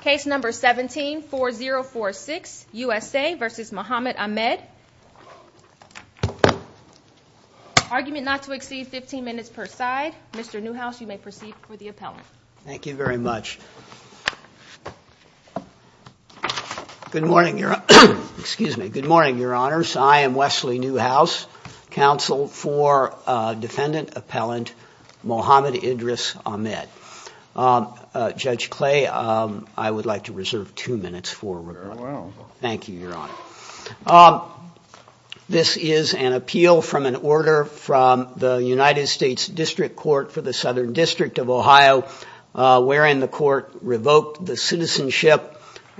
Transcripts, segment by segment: Case number 17-4046, USA v. Mohamed Ahmed. Argument not to exceed 15 minutes per side. Mr. Newhouse, you may proceed for the appellant. Thank you very much. Good morning, Your Honors. I am Wesley Newhouse, Counsel for Defendant Appellant Mohamed Idris Ahmed. Judge Clay, I would like to reserve two minutes for rebuttal. Thank you, Your Honor. This is an appeal from an order from the United States District Court for the Southern District of Ohio, wherein the court revoked the citizenship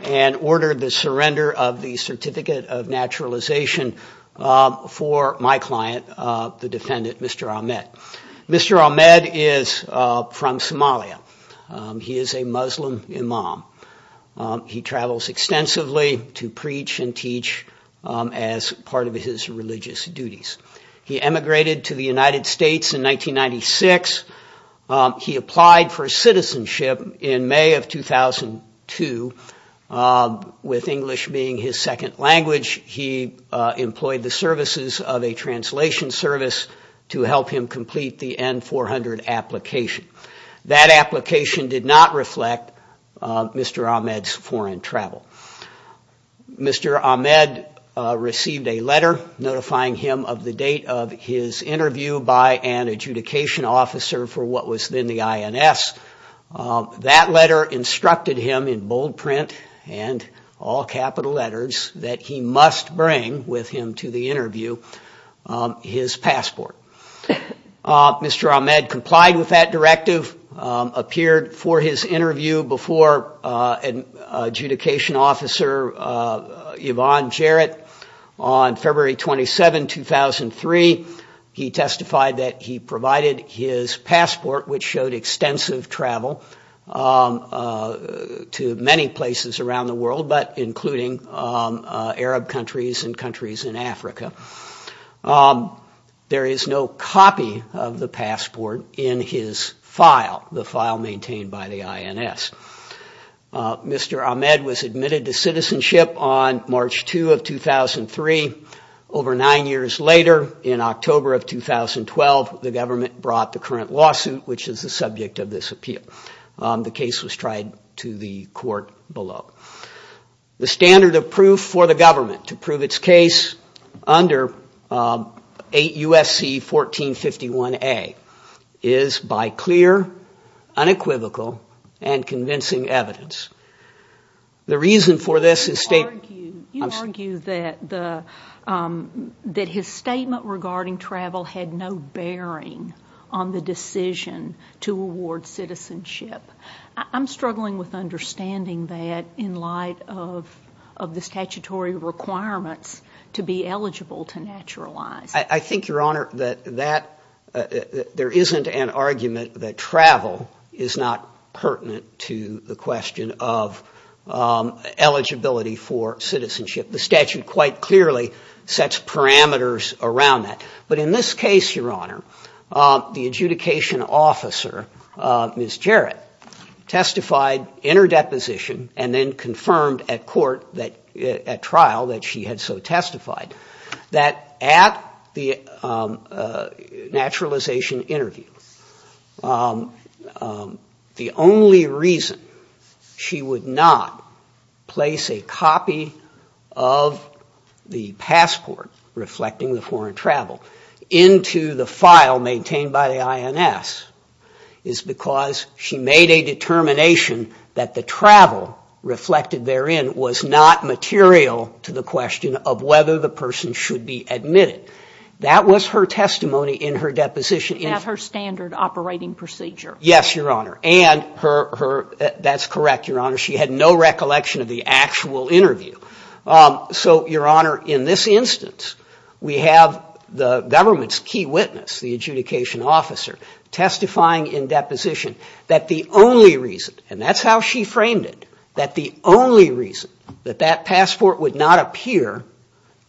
and ordered the surrender of the Certificate of Naturalization for my client, the defendant, Mr. Ahmed. Mr. Ahmed is from Somalia. He is a Muslim imam. He travels extensively to preach and teach as part of his religious duties. He emigrated to the United States in 1996. He applied for citizenship in May of 2002, with English being his second language. He employed the services of a translation service to help him complete the N-400 application. That application did not reflect Mr. Ahmed's foreign travel. Mr. Ahmed received a letter notifying him of the date of his interview by an adjudication officer for what was then the INS. That letter instructed him in bold print and all capital letters that he must bring with him to the interview his passport. Mr. Ahmed complied with that directive, appeared for his interview before an adjudication officer, Yvonne Jarrett, on February 27, 2003. He testified that he provided his passport, which showed extensive travel to many places around the world, but including Arab countries and countries in Africa. There is no copy of the passport in his file, the file maintained by the INS. Mr. Ahmed was admitted to citizenship on March 2 of 2003. Over nine years later, in October of 2012, the government brought the current lawsuit, which is the subject of this appeal. The case was tried to the court below. The standard of proof for the government to prove its case under 8 U.S.C. 1451A is by clear, unequivocal, and convincing evidence. The reason for this is... You argue that his statement regarding travel had no bearing on the decision to award citizenship. I'm struggling with understanding that in light of the statutory requirements to be eligible to naturalize. I think, Your Honor, that there isn't an argument that travel is not pertinent to the question of citizenship. The statute quite clearly sets parameters around that. But in this case, Your Honor, the adjudication officer, Ms. Jarrett, testified in her deposition, and then confirmed at trial that she had so testified, that at the naturalization interview, the only reason she would not place a copy of the passport reflecting the foreign travel into the file maintained by the INS, is because she made a determination that the travel reflected therein was not material to the question of whether the person should be admitted. That was her testimony in her deposition. That's her standard operating procedure. Yes, Your Honor. And that's correct, Your Honor, she had no recollection of the actual interview. So, Your Honor, in this instance, we have the government's key witness, the adjudication officer, testifying in deposition that the only reason, and that's how she framed it,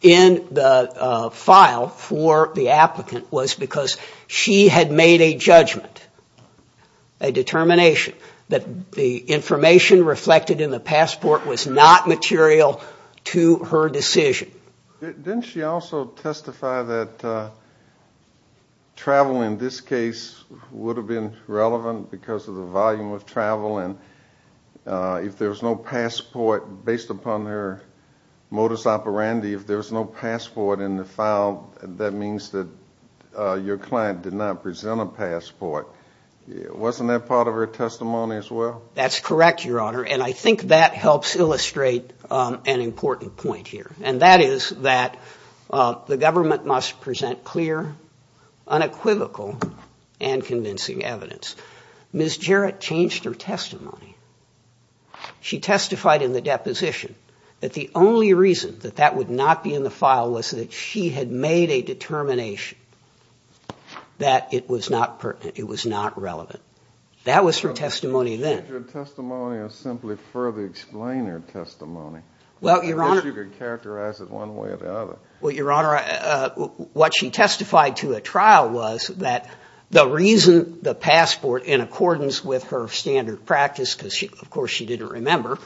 in the file for the applicant was because she had made a judgment, a determination, that the information reflected in the passport was not material to her decision. Didn't she also testify that travel in this case would have been relevant because of the volume of travel, and if there's no passport, based upon her modus operandi, if there's no passport in the file, that means that your client did not present a passport, wasn't that part of her testimony as well? That's correct, Your Honor, and I think that helps illustrate an important point here, and that is that the government must present clear, unequivocal, and convincing evidence. Ms. Jarrett changed her testimony. She testified in the deposition that the only reason that that would not be in the file was that she had made a determination that it was not pertinent, it was not relevant. That was her testimony then. Well, Your Honor, what she testified to at trial was that the reason the passport, in accordance with her standard practice, because of course she didn't remember,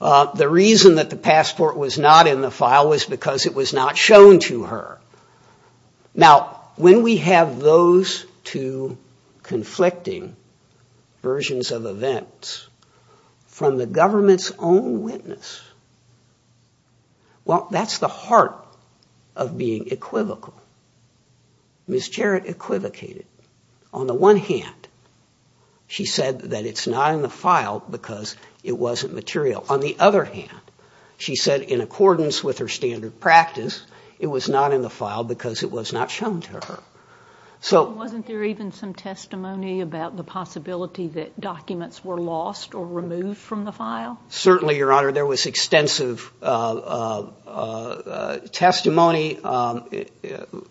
the reason that the passport was not in the file was because it was not shown to her. Now, when we have those two conflicting versions of events from the government's own witness, well, that's the heart of being equivocal. Ms. Jarrett equivocated. On the one hand, she said that it's not in the file because it wasn't material. On the other hand, she said in accordance with her standard practice, it was not in the file because it was not shown to her. Wasn't there even some testimony about the possibility that documents were lost or removed from the file? Certainly, Your Honor. There was extensive testimony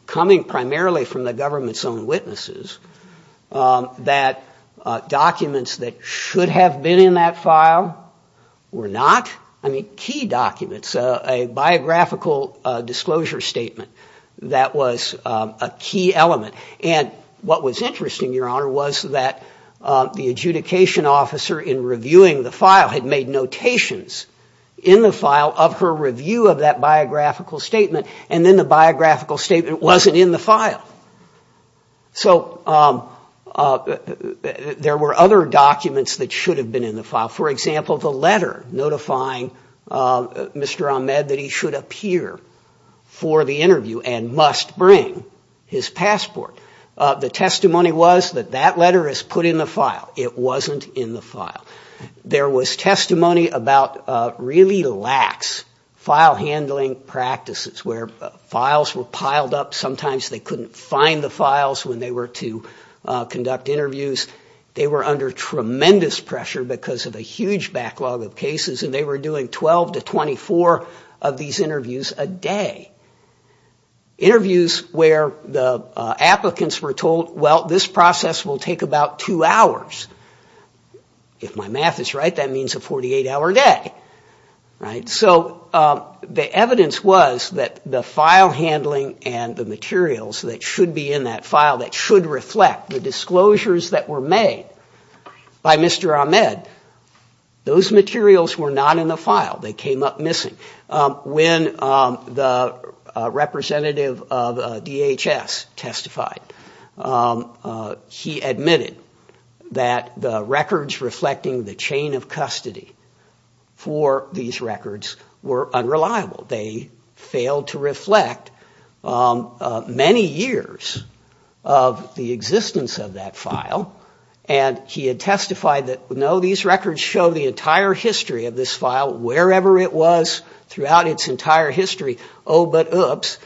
coming primarily from the government's own witnesses that documents that should have been in that file were not. I mean, key documents, a biographical disclosure statement that was a key element. And what was interesting, Your Honor, was that the adjudication officer in reviewing the file had made notations in the file of her review of that biographical statement. And then the biographical statement wasn't in the file. So there were other documents that should have been in the file. For example, the letter notifying Mr. Ahmed that he should appear for the interview and must bring his passport. The testimony was that that letter is put in the file. It wasn't in the file. There was testimony about really lax file handling practices where files were piled up. Sometimes they couldn't find the files when they were to conduct interviews. They were under tremendous pressure because of a huge backlog of cases, and they were doing 12 to 24 of these interviews a day. Interviews where the applicants were told, well, this process will take about two hours. If my math is right, that means a 48-hour day. So the evidence was that the file handling and the materials that should be in that file that should reflect the disclosures that were made by Mr. Ahmed, those materials were not in the file. They came up missing. When the representative of DHS testified, he admitted that the records reflecting the chain of custody for these records were unreliable. They failed to reflect many years of the existence of that file, and he had testified that, no, these records show the entire history of this file, wherever it was. Throughout its entire history, oh, but oops,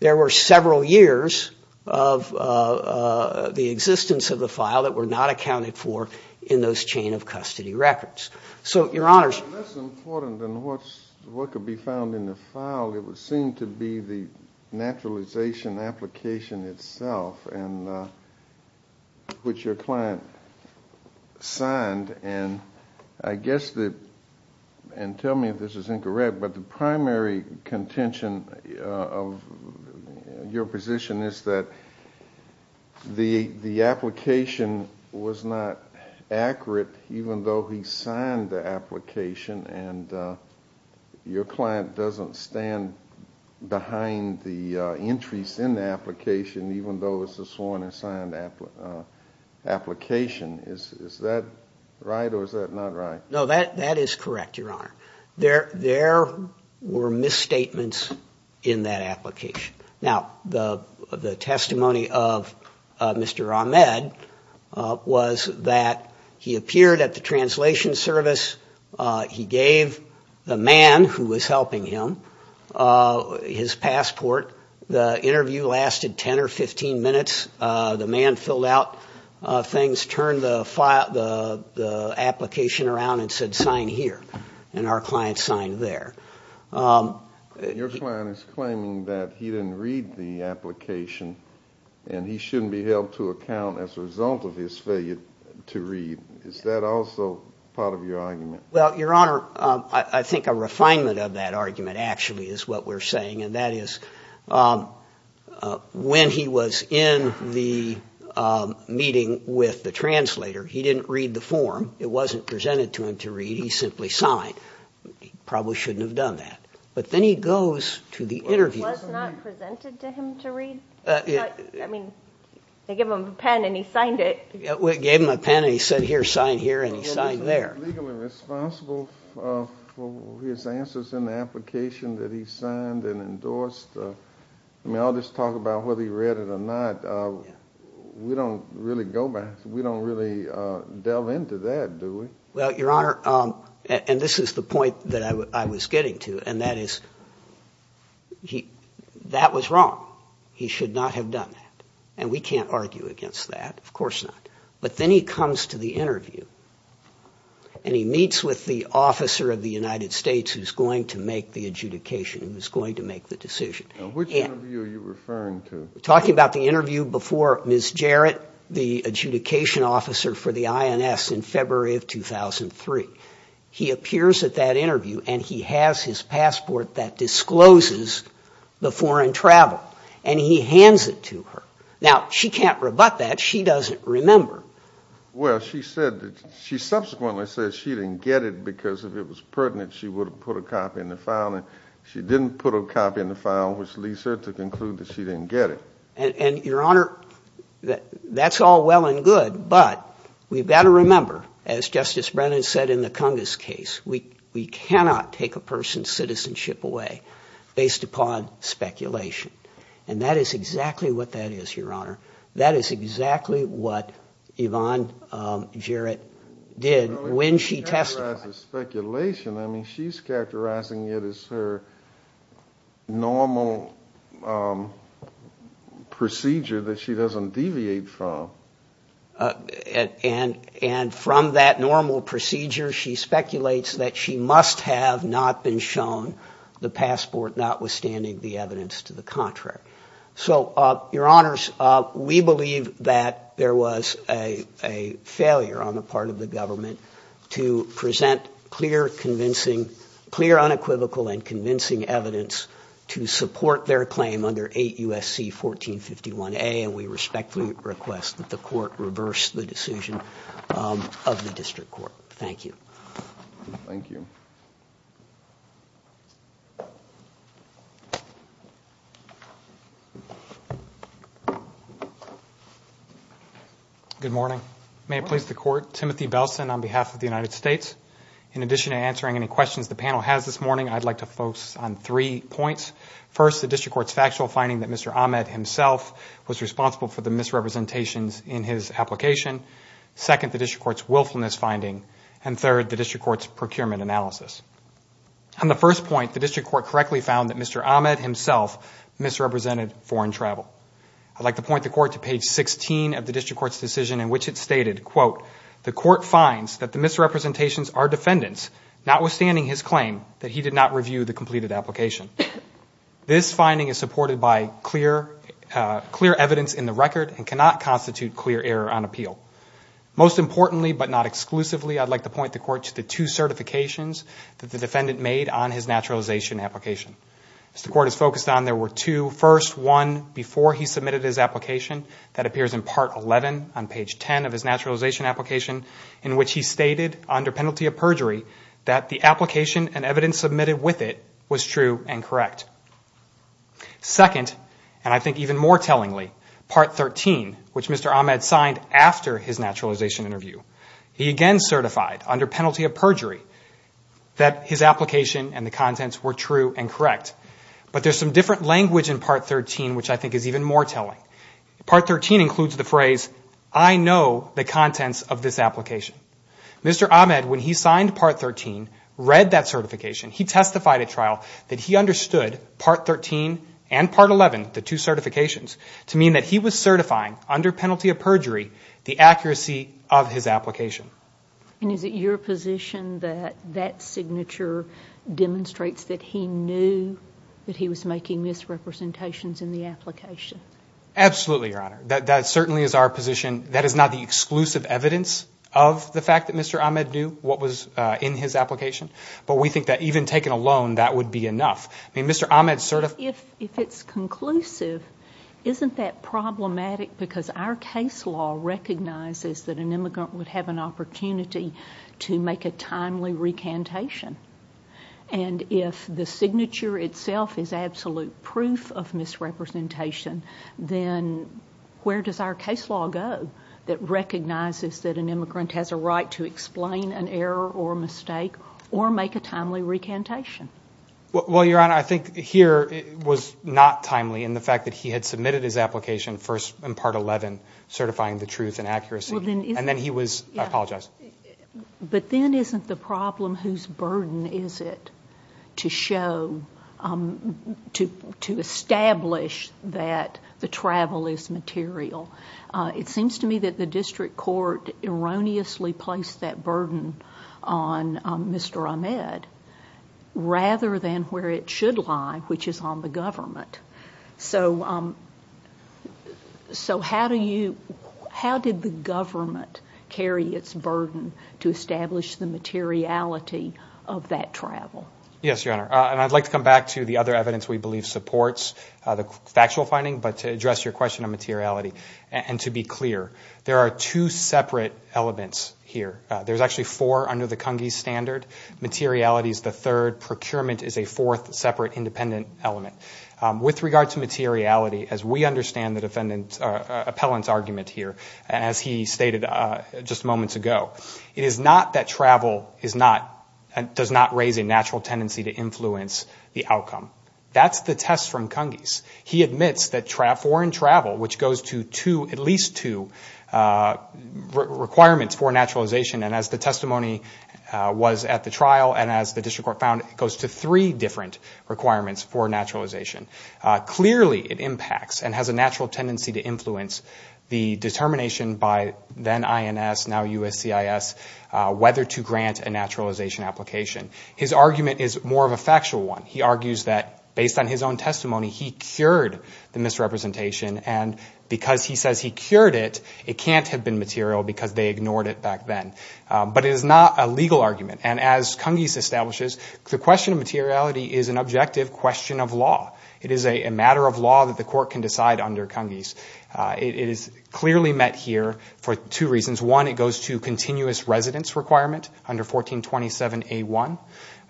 there were several years of the existence of the file that were not accounted for in those chain of custody records. So your Honors. That's important, and what could be found in the file, it would seem to be the naturalization application itself, which your client signed. And I guess that, and tell me if this is incorrect, but the primary contention of your position is that the application was not accurate, even though he signed the application. And your client doesn't stand behind the entries in the application, even though it's a sworn and signed application. Is that right, or is that not right? He turned the application around and said, sign here, and our client signed there. And your client is claiming that he didn't read the application, and he shouldn't be held to account as a result of his failure to read. Is that also part of your argument? Well, your Honor, I think a refinement of that argument actually is what we're saying, and that is when he was in the meeting with the translator, he didn't read the form, it wasn't presented to him to read, he simply signed. He probably shouldn't have done that. But then he goes to the interview. It was not presented to him to read? I mean, they gave him a pen and he signed it. They gave him a pen and he said, here, sign here, and he signed there. But wasn't he legally responsible for his answers in the application that he signed and endorsed? I mean, I'll just talk about whether he read it or not. We don't really delve into that, do we? Well, your Honor, and this is the point that I was getting to, and that is, that was wrong. He should not have done that. And we can't argue against that, of course not. But then he comes to the interview and he meets with the officer of the United States who's going to make the adjudication, who's going to make the decision. Which interview are you referring to? Talking about the interview before Ms. Jarrett, the adjudication officer for the INS in February of 2003. He appears at that interview and he has his passport that discloses the foreign travel, and he hands it to her. Now, she can't rebut that. She doesn't remember. Well, she said that she subsequently said she didn't get it because if it was pertinent, she would have put a copy in the file, and she didn't put a copy in the file, which leads her to conclude that she didn't get it. And, your Honor, that's all well and good, but we've got to remember, as Justice Brennan said in the Congress case, we cannot take a person's citizenship away based upon speculation. And that is exactly what that is, your Honor. That is exactly what Yvonne Jarrett did when she testified. She doesn't characterize it as speculation. I mean, she's characterizing it as her normal procedure that she doesn't deviate from. And from that normal procedure, she speculates that she must have not been shown the passport, notwithstanding the evidence to the contrary. So, your Honors, we believe that there was a failure on the part of the government to present the passport to the Congress. We present clear, unequivocal, and convincing evidence to support their claim under 8 U.S.C. 1451A, and we respectfully request that the Court reverse the decision of the District Court. Thank you. Thank you. Good morning. May it please the Court, Timothy Belson on behalf of the United States. In addition to answering any questions the panel has this morning, I'd like to focus on three points. First, the District Court's factual finding that Mr. Ahmed himself was responsible for the misrepresentations in his application. Second, the District Court's willfulness finding, and third, the District Court's procurement analysis. On the first point, the District Court correctly found that Mr. Ahmed himself misrepresented foreign travel. I'd like to point the Court to page 16 of the District Court's decision in which it stated, This finding is supported by clear evidence in the record and cannot constitute clear error on appeal. Most importantly, but not exclusively, I'd like to point the Court to the two certifications that the defendant made on his naturalization application. As the Court has focused on, there were two. First, one before he submitted his application that appears in part 11 on page 10 of his naturalization application in which he stated, under penalty of perjury, that the application and evidence submitted with it was true and correct. Second, and I think even more tellingly, part 13, which Mr. Ahmed signed after his naturalization interview. He again certified, under penalty of perjury, that his application and the contents were true and correct. But there's some different language in part 13 which I think is even more telling. Part 13 includes the phrase, I know the contents of this application. Mr. Ahmed, in part 13, read that certification, he testified at trial that he understood part 13 and part 11, the two certifications, to mean that he was certifying, under penalty of perjury, the accuracy of his application. And is it your position that that signature demonstrates that he knew that he was making misrepresentations in the application? Absolutely, Your Honor. But we think that even taking a loan, that would be enough. If it's conclusive, isn't that problematic because our case law recognizes that an immigrant would have an opportunity to make a timely recantation? And if the signature itself is absolute proof of misrepresentation, then where does our case law go that recognizes that an immigrant has a right to explain an error or mistake? Or make a timely recantation? Well, Your Honor, I think here it was not timely in the fact that he had submitted his application first in part 11, certifying the truth and accuracy. And then he was, I apologize. But then isn't the problem whose burden is it to show, to establish that the travel is material? It seems to me that the district court erroneously placed that burden on the fact that he had submitted his application first in part 11, Mr. Ahmed, rather than where it should lie, which is on the government. So how do you, how did the government carry its burden to establish the materiality of that travel? Yes, Your Honor, and I'd like to come back to the other evidence we believe supports the factual finding, but to address your question of materiality. And to be clear, there are two separate elements here. There's actually four under the Cungese standard. Materiality is the third. Procurement is a fourth separate independent element. With regard to materiality, as we understand the defendant's appellant's argument here, as he stated just moments ago, it is not that travel does not raise a natural tendency to influence the outcome. That's the test from Cungese. He admits that foreign travel, which goes to at least two requirements for naturalization, and as the testimony was at the trial and as the district court found, it goes to three different requirements for naturalization. Clearly it impacts and has a natural tendency to influence the determination by then INS, now USCIS, whether to grant a naturalization application. His argument is more of a factual one. He argues that based on his own testimony, he cured the misrepresentation, and because he says he cured it, it can't have been material because they ignored it back then. But it is not a legal argument, and as Cungese establishes, the question of materiality is an objective question of law. It is a matter of law that the court can decide under Cungese. It is clearly met here for two reasons. One, it goes to continuous residence requirement under 1427A1,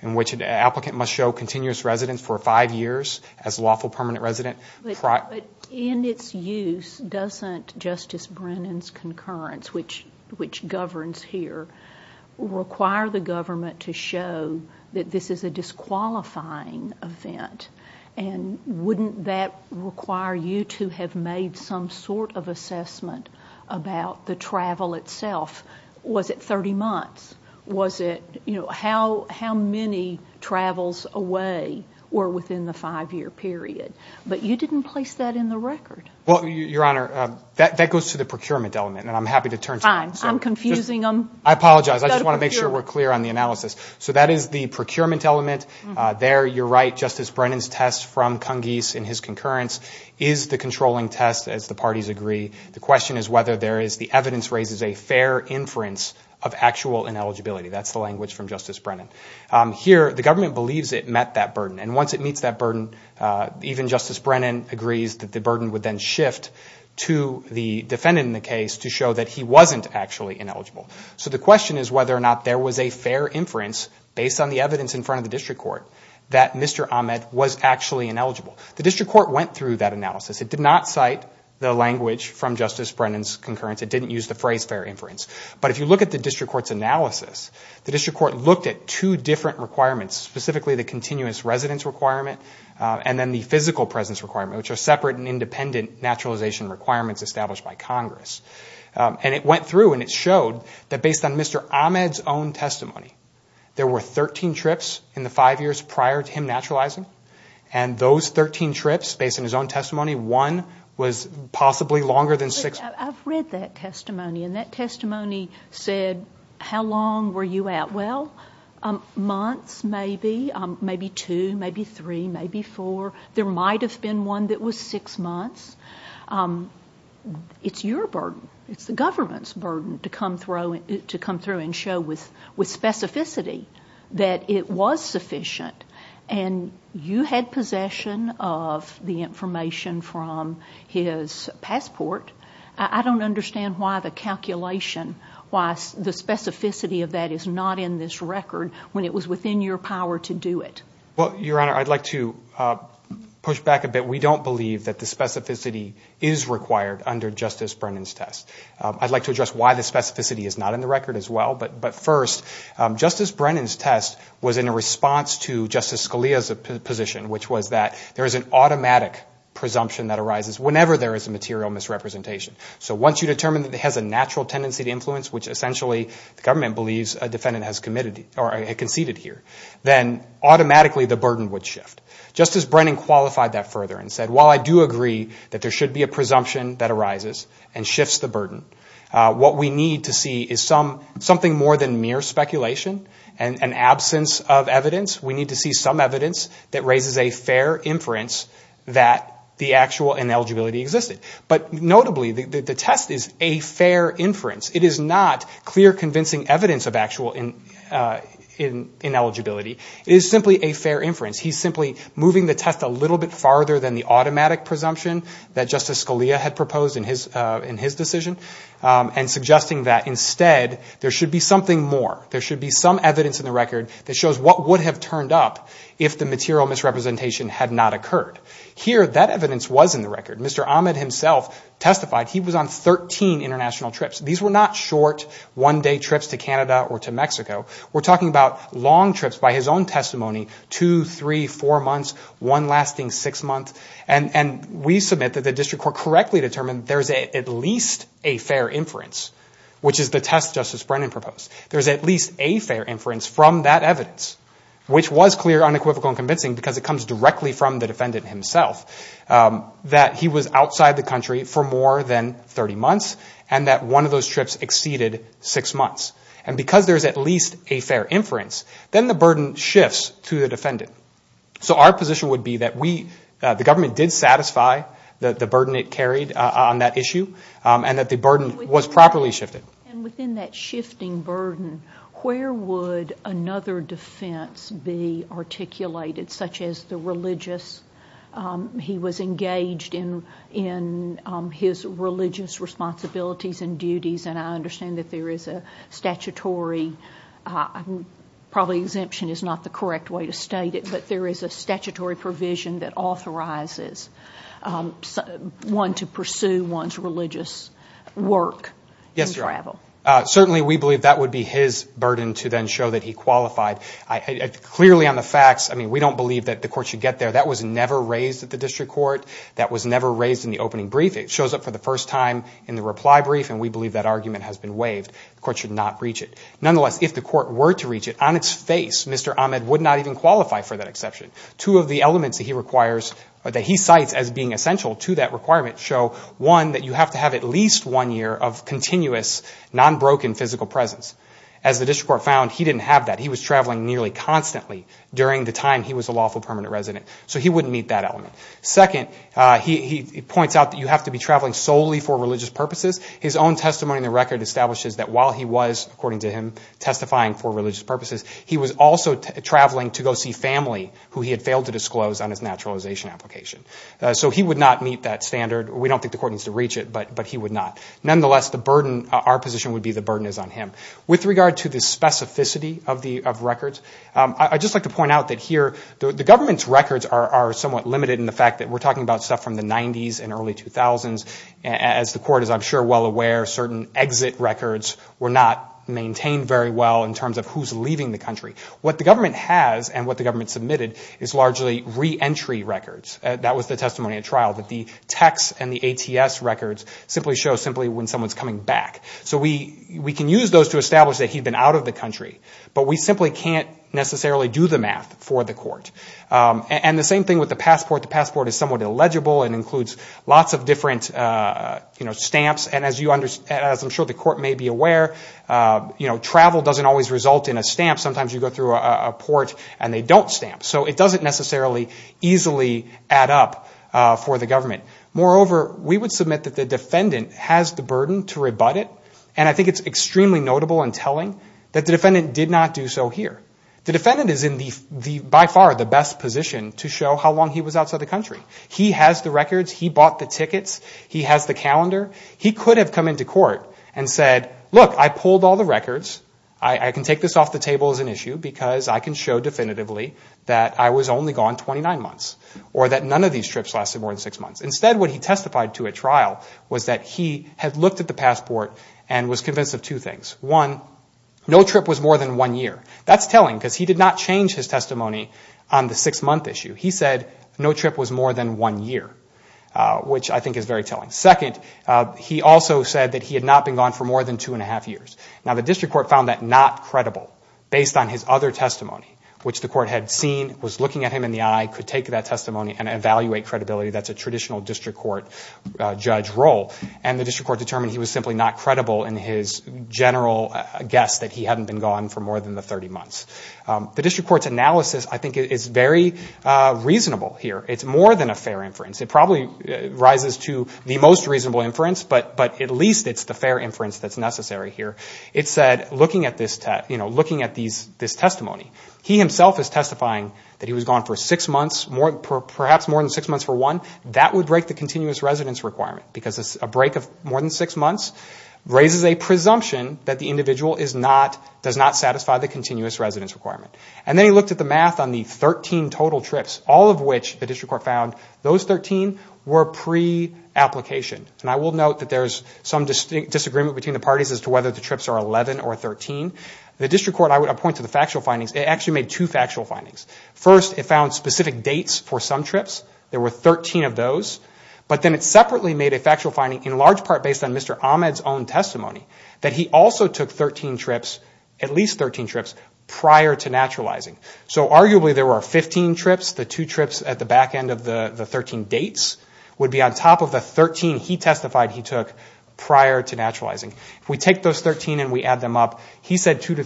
in which an applicant must show continuous residence for five years as a lawful permanent resident. But in its use, doesn't Justice Brennan's concurrence, which governs here, require the government to show that this is a disqualifying event? And wouldn't that require you to have made some sort of assessment about the travel itself? Was it 30 months? Was it, you know, how many travels away were within the five-year period? But you didn't place that in the record. Well, Your Honor, that goes to the procurement element, and I'm happy to turn to that. Fine. I'm confusing them. I apologize. I just want to make sure we're clear on the analysis. So that is the procurement element. There, you're right, Justice Brennan's test from Cungese in his concurrence is the controlling test, as the parties agree. The question is whether there is the evidence raises a fair inference of actual ineligibility. That's the language from Justice Brennan. Here, the government believes it met that burden, and once it meets that burden, even Justice Brennan agrees that the burden would then shift to the defendant in the case to show that he wasn't actually ineligible. So the question is whether or not there was a fair inference, based on the evidence in front of the district court, that Mr. Ahmed was actually ineligible. The district court went through that analysis. It did not cite the language from Justice Brennan's concurrence. It didn't use the phrase fair inference. But if you look at the district court's analysis, the district court looked at two different requirements, specifically the continuous residence requirement and then the physical presence requirement, which are separate and independent naturalization requirements established by Congress. And it went through, and it showed that based on Mr. Ahmed's own testimony, there were 13 trips in the five years prior to him naturalizing, and those 13 trips, based on his own testimony, were ineligible. So one was possibly longer than six. I've read that testimony, and that testimony said, how long were you out? Well, months maybe, maybe two, maybe three, maybe four. There might have been one that was six months. It's your burden. It's the government's burden to come through and show with specificity that it was sufficient, and you had possession of the information from the district court. And you had possession of the information from his passport. I don't understand why the calculation, why the specificity of that is not in this record when it was within your power to do it. Well, Your Honor, I'd like to push back a bit. We don't believe that the specificity is required under Justice Brennan's test. I'd like to address why the specificity is not in the record as well, but first, Justice Brennan's test was in response to Justice Scalia's position, which was that there is an automatic presumption that a defendant arises whenever there is a material misrepresentation. So once you determine that it has a natural tendency to influence, which essentially the government believes a defendant has conceded here, then automatically the burden would shift. Justice Brennan qualified that further and said, while I do agree that there should be a presumption that arises and shifts the burden, what we need to see is something more than mere speculation and an absence of evidence. We need to see some evidence that raises a fair inference that the actual ineligibility existed. But notably, the test is a fair inference. It is not clear convincing evidence of actual ineligibility. It is simply a fair inference. He's simply moving the test a little bit farther than the automatic presumption that Justice Scalia had proposed in his decision and suggesting that instead there should be something more. There should be some evidence in the record that shows what would have turned up if the material misrepresentation had not occurred. Here, that evidence was in the record. Mr. Ahmed himself testified. He was on 13 international trips. These were not short, one-day trips to Canada or to Mexico. We're talking about long trips by his own testimony, two, three, four months, one lasting six months, and we submit that the District Court correctly determined there is at least a fair inference, which is the test Justice Brennan proposed. There is at least a fair inference from that evidence, which was clear, unequivocal, and convincing because it comes directly from the defendant himself, that he was outside the country for more than 30 months and that one of those trips exceeded six months. And because there is at least a fair inference, then the burden shifts to the defendant. So our position would be that the government did satisfy the burden it carried on that issue and that the burden was properly shifted. And within that shifting burden, where would another defense be articulated, such as the religious? He was engaged in his religious responsibilities and duties, and I understand that there is a statutory, probably exemption is not the correct way to state it, but there is a statutory provision that authorizes one to pursue one's religious work. Yes, certainly we believe that would be his burden to then show that he qualified. Clearly on the facts, I mean, we don't believe that the court should get there. That was never raised at the District Court. That was never raised in the opening brief. It shows up for the first time in the reply brief, and we believe that argument has been waived. The court should not reach it. Nonetheless, if the court were to reach it, on its face, Mr. Ahmed would not even qualify for that exception. Two of the elements that he requires, that he cites as being essential to that requirement show, one, that you have to have at least one year of continuous, non-broken physical presence. As the District Court found, he didn't have that. He was traveling nearly constantly during the time he was a lawful permanent resident. So he wouldn't meet that element. Second, he points out that you have to be traveling solely for religious purposes. His own testimony in the record establishes that while he was, according to him, testifying for religious purposes, he was also traveling to go see family who he was traveling with. He was also traveling to see family who he had failed to disclose on his naturalization application. So he would not meet that standard. We don't think the court needs to reach it, but he would not. Nonetheless, our position would be the burden is on him. With regard to the specificity of records, I'd just like to point out that here, the government's records are somewhat limited in the fact that we're talking about stuff from the 90s and early 2000s. As the court is, I'm sure, well aware, certain exit records were not maintained very well in terms of who's leaving the country. What the government has and what the government submitted is largely re-entry records. That was the testimony at trial, that the texts and the ATS records simply show simply when someone's coming back. So we can use those to establish that he'd been out of the country. But we simply can't necessarily do the math for the court. And the same thing with the passport. The passport is somewhat illegible and includes lots of different stamps. And as I'm sure the court may be aware, travel doesn't always result in a stamp. Sometimes you go through a port and they don't stamp. So it doesn't necessarily easily add up for the government. Moreover, we would submit that the defendant has the burden to rebut it. And I think it's extremely notable and telling that the defendant did not do so here. The defendant is in the, by far, the best position to show how long he was outside the country. He has the records. He bought the tickets. He has the calendar. He could have come into court and said, look, I pulled all the records. I can take this off the table as an issue because I can show definitively that I was only gone 29 months. Or that none of these trips lasted more than six months. Instead, what he testified to at trial was that he had looked at the passport and was convinced of two things. One, no trip was more than one year. That's telling because he did not change his testimony on the six-month issue. He said no trip was more than one year, which I think is very telling. Second, he also said that he had not been gone for more than two and a half years. Now, the district court found that not credible based on his other testimony, which the court had seen, was looking at him in the eye, could take that testimony and evaluate credibility. That's a traditional district court judge role. And the district court determined he was simply not credible in his general guess that he hadn't been gone for more than the 30 months. The district court's analysis, I think, is very reasonable here. It's more than a fair inference. It's the most reasonable inference, but at least it's the fair inference that's necessary here. It said, looking at this testimony, he himself is testifying that he was gone for six months, perhaps more than six months for one. That would break the continuous residence requirement because a break of more than six months raises a presumption that the individual does not satisfy the continuous residence requirement. And then he looked at the math on the 13 total trips, all of which the district court found those 13 were pre-application. And I will note that there's some disagreement between the parties as to whether the trips are 11 or 13. The district court, I would point to the factual findings, it actually made two factual findings. First, it found specific dates for some trips, there were 13 of those. But then it separately made a factual finding, in large part based on Mr. Ahmed's own testimony, that he also took 13 trips, at least 13 trips, prior to naturalizing. So arguably there were 15 trips, the two trips at the back end of the 13 dates would be on top of the 13 here. So that's the 13 he testified he took prior to naturalizing. If we take those 13 and we add them up, he said two,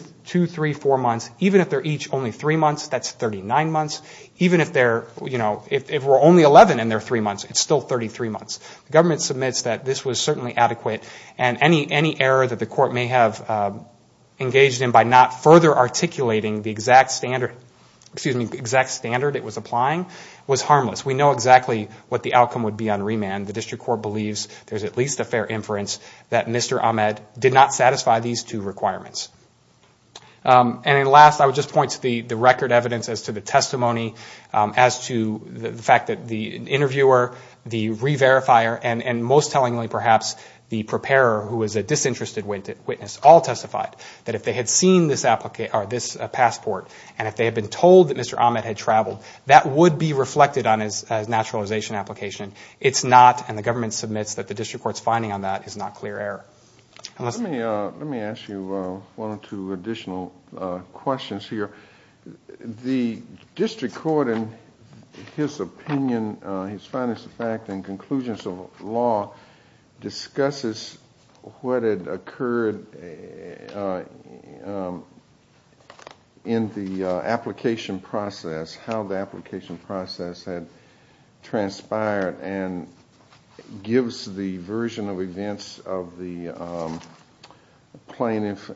three, four months, even if they're each only three months, that's 39 months. Even if they're, you know, if we're only 11 and they're three months, it's still 33 months. The government submits that this was certainly adequate and any error that the court may have engaged in by not further articulating the exact standard it was applying was harmless. We know exactly what the outcome would be on remand, the district court believes there's at least a fair inference that Mr. Ahmed did not satisfy these two requirements. And then last, I would just point to the record evidence as to the testimony, as to the fact that the interviewer, the re-verifier, and most tellingly perhaps the preparer, who was a disinterested witness, all testified that if they had seen this passport and if they had been told that Mr. Ahmed had traveled, that would be reflected on his testimony. That's a naturalization application. It's not, and the government submits that the district court's finding on that is not clear error. Let me ask you one or two additional questions here. The district court, in his opinion, his findings of fact and conclusions of law, discusses what had occurred in the application process, how the application process had, transpired, and gives the version of events of the plaintiff,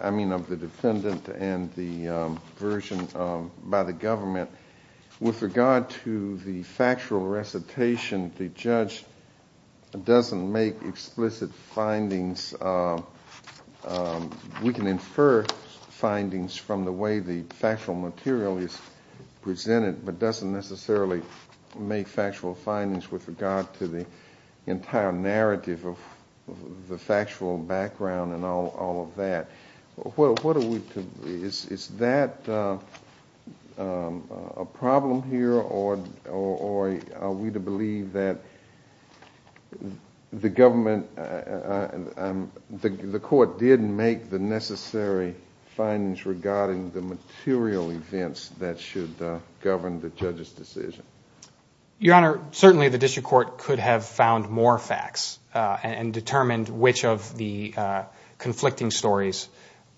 I mean of the defendant, and the version by the government. With regard to the factual recitation, the judge doesn't make explicit findings. We can infer findings from the way the factual material is presented, but doesn't necessarily make factual findings with regard to the entire narrative of the factual background and all of that. What are we to, is that a problem here, or are we to believe that the government, the court did make the necessary findings regarding the material events that should govern the judge's decision? Your Honor, certainly the district court could have found more facts and determined which of the conflicting stories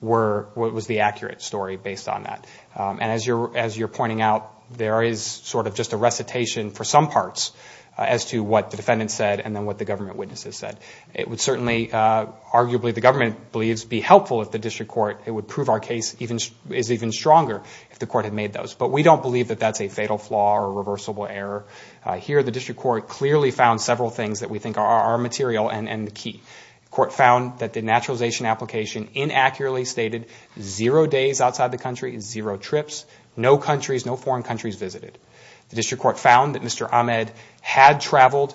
were, was the accurate story based on that. As you're pointing out, there is sort of just a recitation for some parts as to what the defendant said and then what the government witnesses said. It would certainly, arguably the government believes, be helpful if the district court, it would prove our case is even stronger if the court had made those. But we don't believe that that's a fatal flaw or a reversible error. Here the district court clearly found several things that we think are material and key. The court found that the naturalization application inaccurately stated zero days outside the country, zero trips, no countries, no foreign countries visited. The district court found that Mr. Ahmed had traveled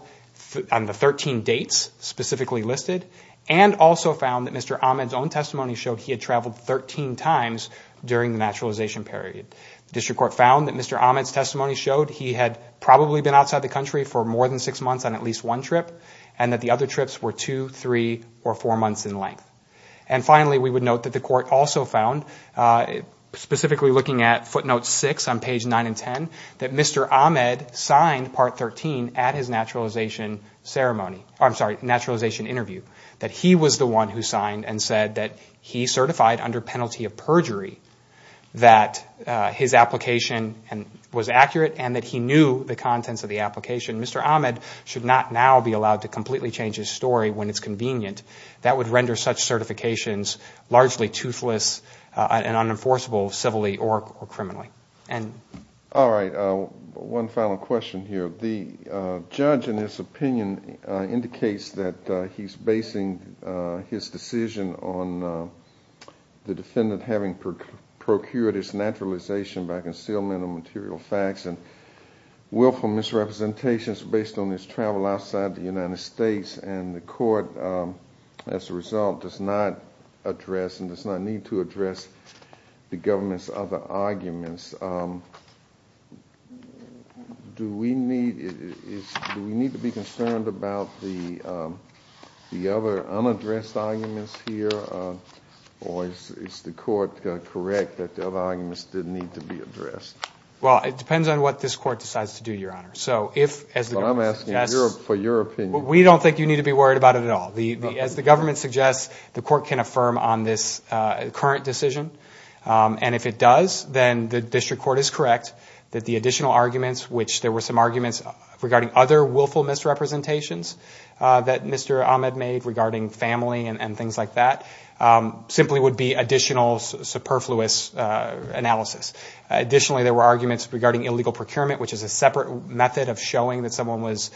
on the 13 dates specifically listed, and also found that Mr. Ahmed's own testimony showed he had traveled 13 times during the naturalization period. The district court found that Mr. Ahmed's testimony showed he had probably been outside the country for more than six months on at least one trip, and that the other trips were two, three, or four months in length. And finally, we would note that the court also found, specifically looking at footnote 6 on page 9 and 10, that Mr. Ahmed signed Part 13 at his naturalization ceremony, I'm sorry, naturalization interview. That he was the one who signed and said that he certified under penalty of perjury that his application was accurate and that he knew the contents of the application. Mr. Ahmed should not now be allowed to completely change his story when it's convenient. That would render such certifications largely toothless and unenforceable civilly or criminally. All right, one final question here. The judge, in his opinion, indicates that he's basing his decision on the defendant having procured his naturalization by concealment of material facts and willful misrepresentations based on his travel outside the United States, and the court, as a result, does not address and does not need to address the government's other arguments. Do we need to be concerned about the other unaddressed arguments here, or is the court correct that the other arguments did need to be addressed? Well, it depends on what this court decides to do, Your Honor. But I'm asking for your opinion. We don't think you need to be worried about it at all. As the government suggests, the court can affirm on this current decision, and if it does, then the district court is correct that the additional arguments, which there were some arguments regarding other willful misrepresentations that Mr. Ahmed made regarding family and things like that, simply would be additional superfluous analysis. Additionally, there were arguments regarding illegal procurement, which is a separate method of showing that someone was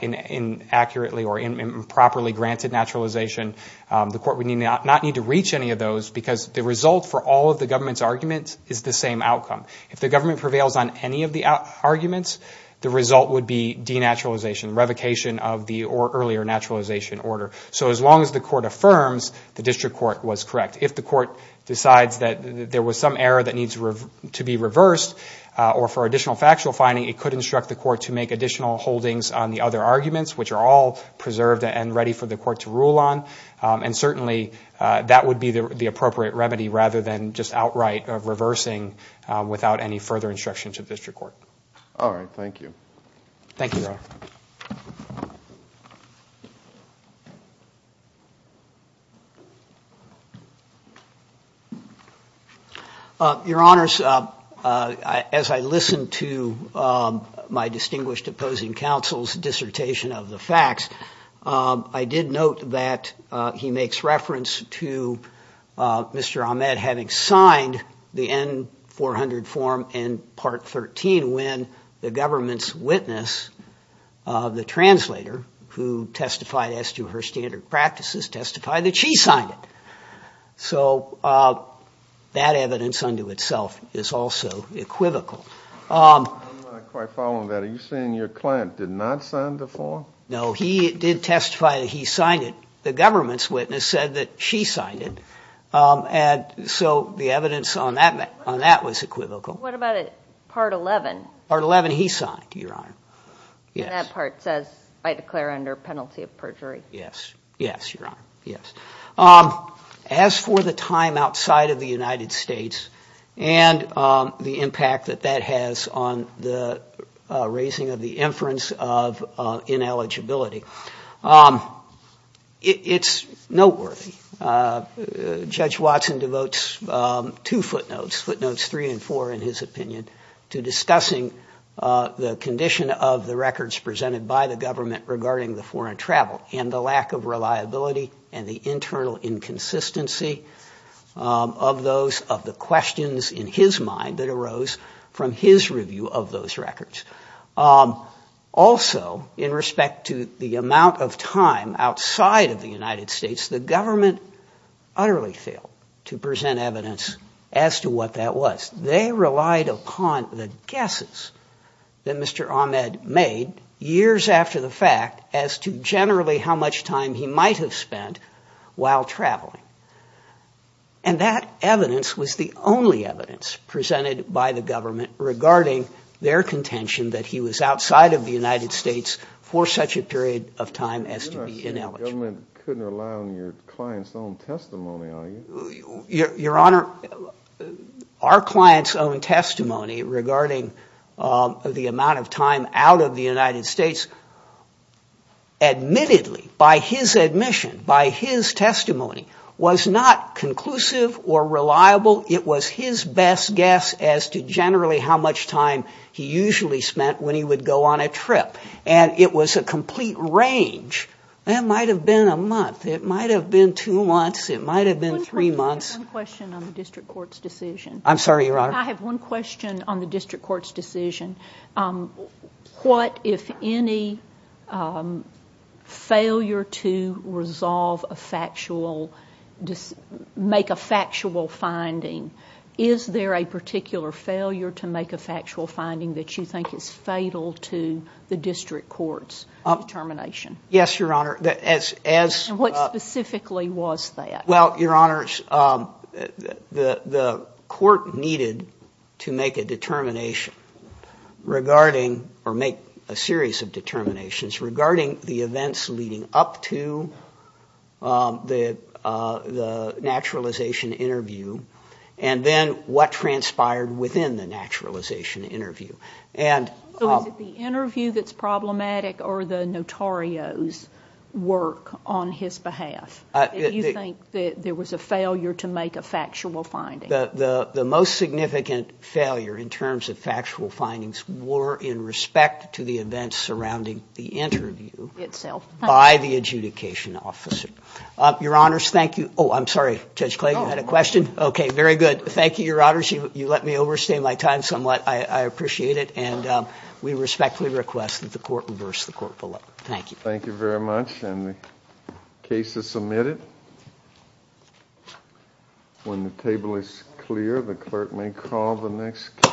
inaccurately or improperly granted naturalization. The court would not need to reach any of those, because the result for all of the government's arguments is the same outcome. If the government prevails on any of the arguments, the result would be denaturalization, revocation of the earlier naturalization order. So as long as the court affirms, the district court was correct. If the court decides that there was some error that needs to be reversed, or for additional factual finding, it could instruct the court to make additional holdings on the other arguments, which are all preserved and ready for the court to rule on. And certainly, that would be the appropriate remedy, rather than just outright reversing without any further instruction to the district court. All right, thank you. Your Honors, as I listened to my distinguished opposing counsel's dissertation of the facts, I did note that he makes reference to Mr. Ahmed having signed the N-400 form in Part 13, when the government's witness, the translator, who testified as to her standard practices, testified that she signed it. So that evidence unto itself is also equivocal. I'm not quite following that. No, he did testify that he signed it. The government's witness said that she signed it. And so the evidence on that was equivocal. What about Part 11? Part 11, he signed, Your Honor. And that part says, I declare under penalty of perjury. Yes, Your Honor, yes. As for the time outside of the United States, and the impact that that has on the raising of the inference of NLAA, it's noteworthy. Judge Watson devotes two footnotes, footnotes three and four, in his opinion, to discussing the condition of the records presented by the government regarding the foreign travel, and the lack of reliability, and the internal inconsistency of those, of the questions in his mind that arose from his review of those records. Also, in respect to the amount of time outside of the United States, the government utterly failed to present evidence as to what that was. They relied upon the guesses that Mr. Ahmed made years after the fact as to generally how much time he might have spent while traveling. And that evidence was the only evidence presented by the government regarding their contention that he was outside of the United States for such a period of time as to be ineligible. The government couldn't rely on your client's own testimony, are you? Your Honor, our client's own testimony regarding the amount of time out of the United States, admittedly, by his admission, by his testimony, was not conclusive or reliable. It was his best guess as to generally how much time he usually spent when he would go on a trip. And it was a complete range. It might have been a month. It might have been two months. It might have been three months. One question on the district court's decision. I'm sorry, Your Honor? I have one question on the district court's decision. What, if any, failure to resolve a factual, make a factual finding, is there a particular failure to make a factual finding that you think is fatal to the district court's determination? Yes, Your Honor. And what specifically was that? Well, Your Honor, the court needed to make a determination regarding, or make a series of determinations regarding the events leading up to the naturalization interview. And then what transpired within the naturalization interview. So is it the interview that's problematic, or the notario's work on his behalf? Do you think that there was a failure to make a factual finding? The most significant failure in terms of factual findings were in respect to the events surrounding the interview by the adjudication officer. Your Honors, thank you. Oh, I'm sorry, Judge Clay, you had a question? Okay, very good. Thank you, Your Honors. You let me overstay my time somewhat. I appreciate it. And we respectfully request that the court reverse the court vote. Thank you.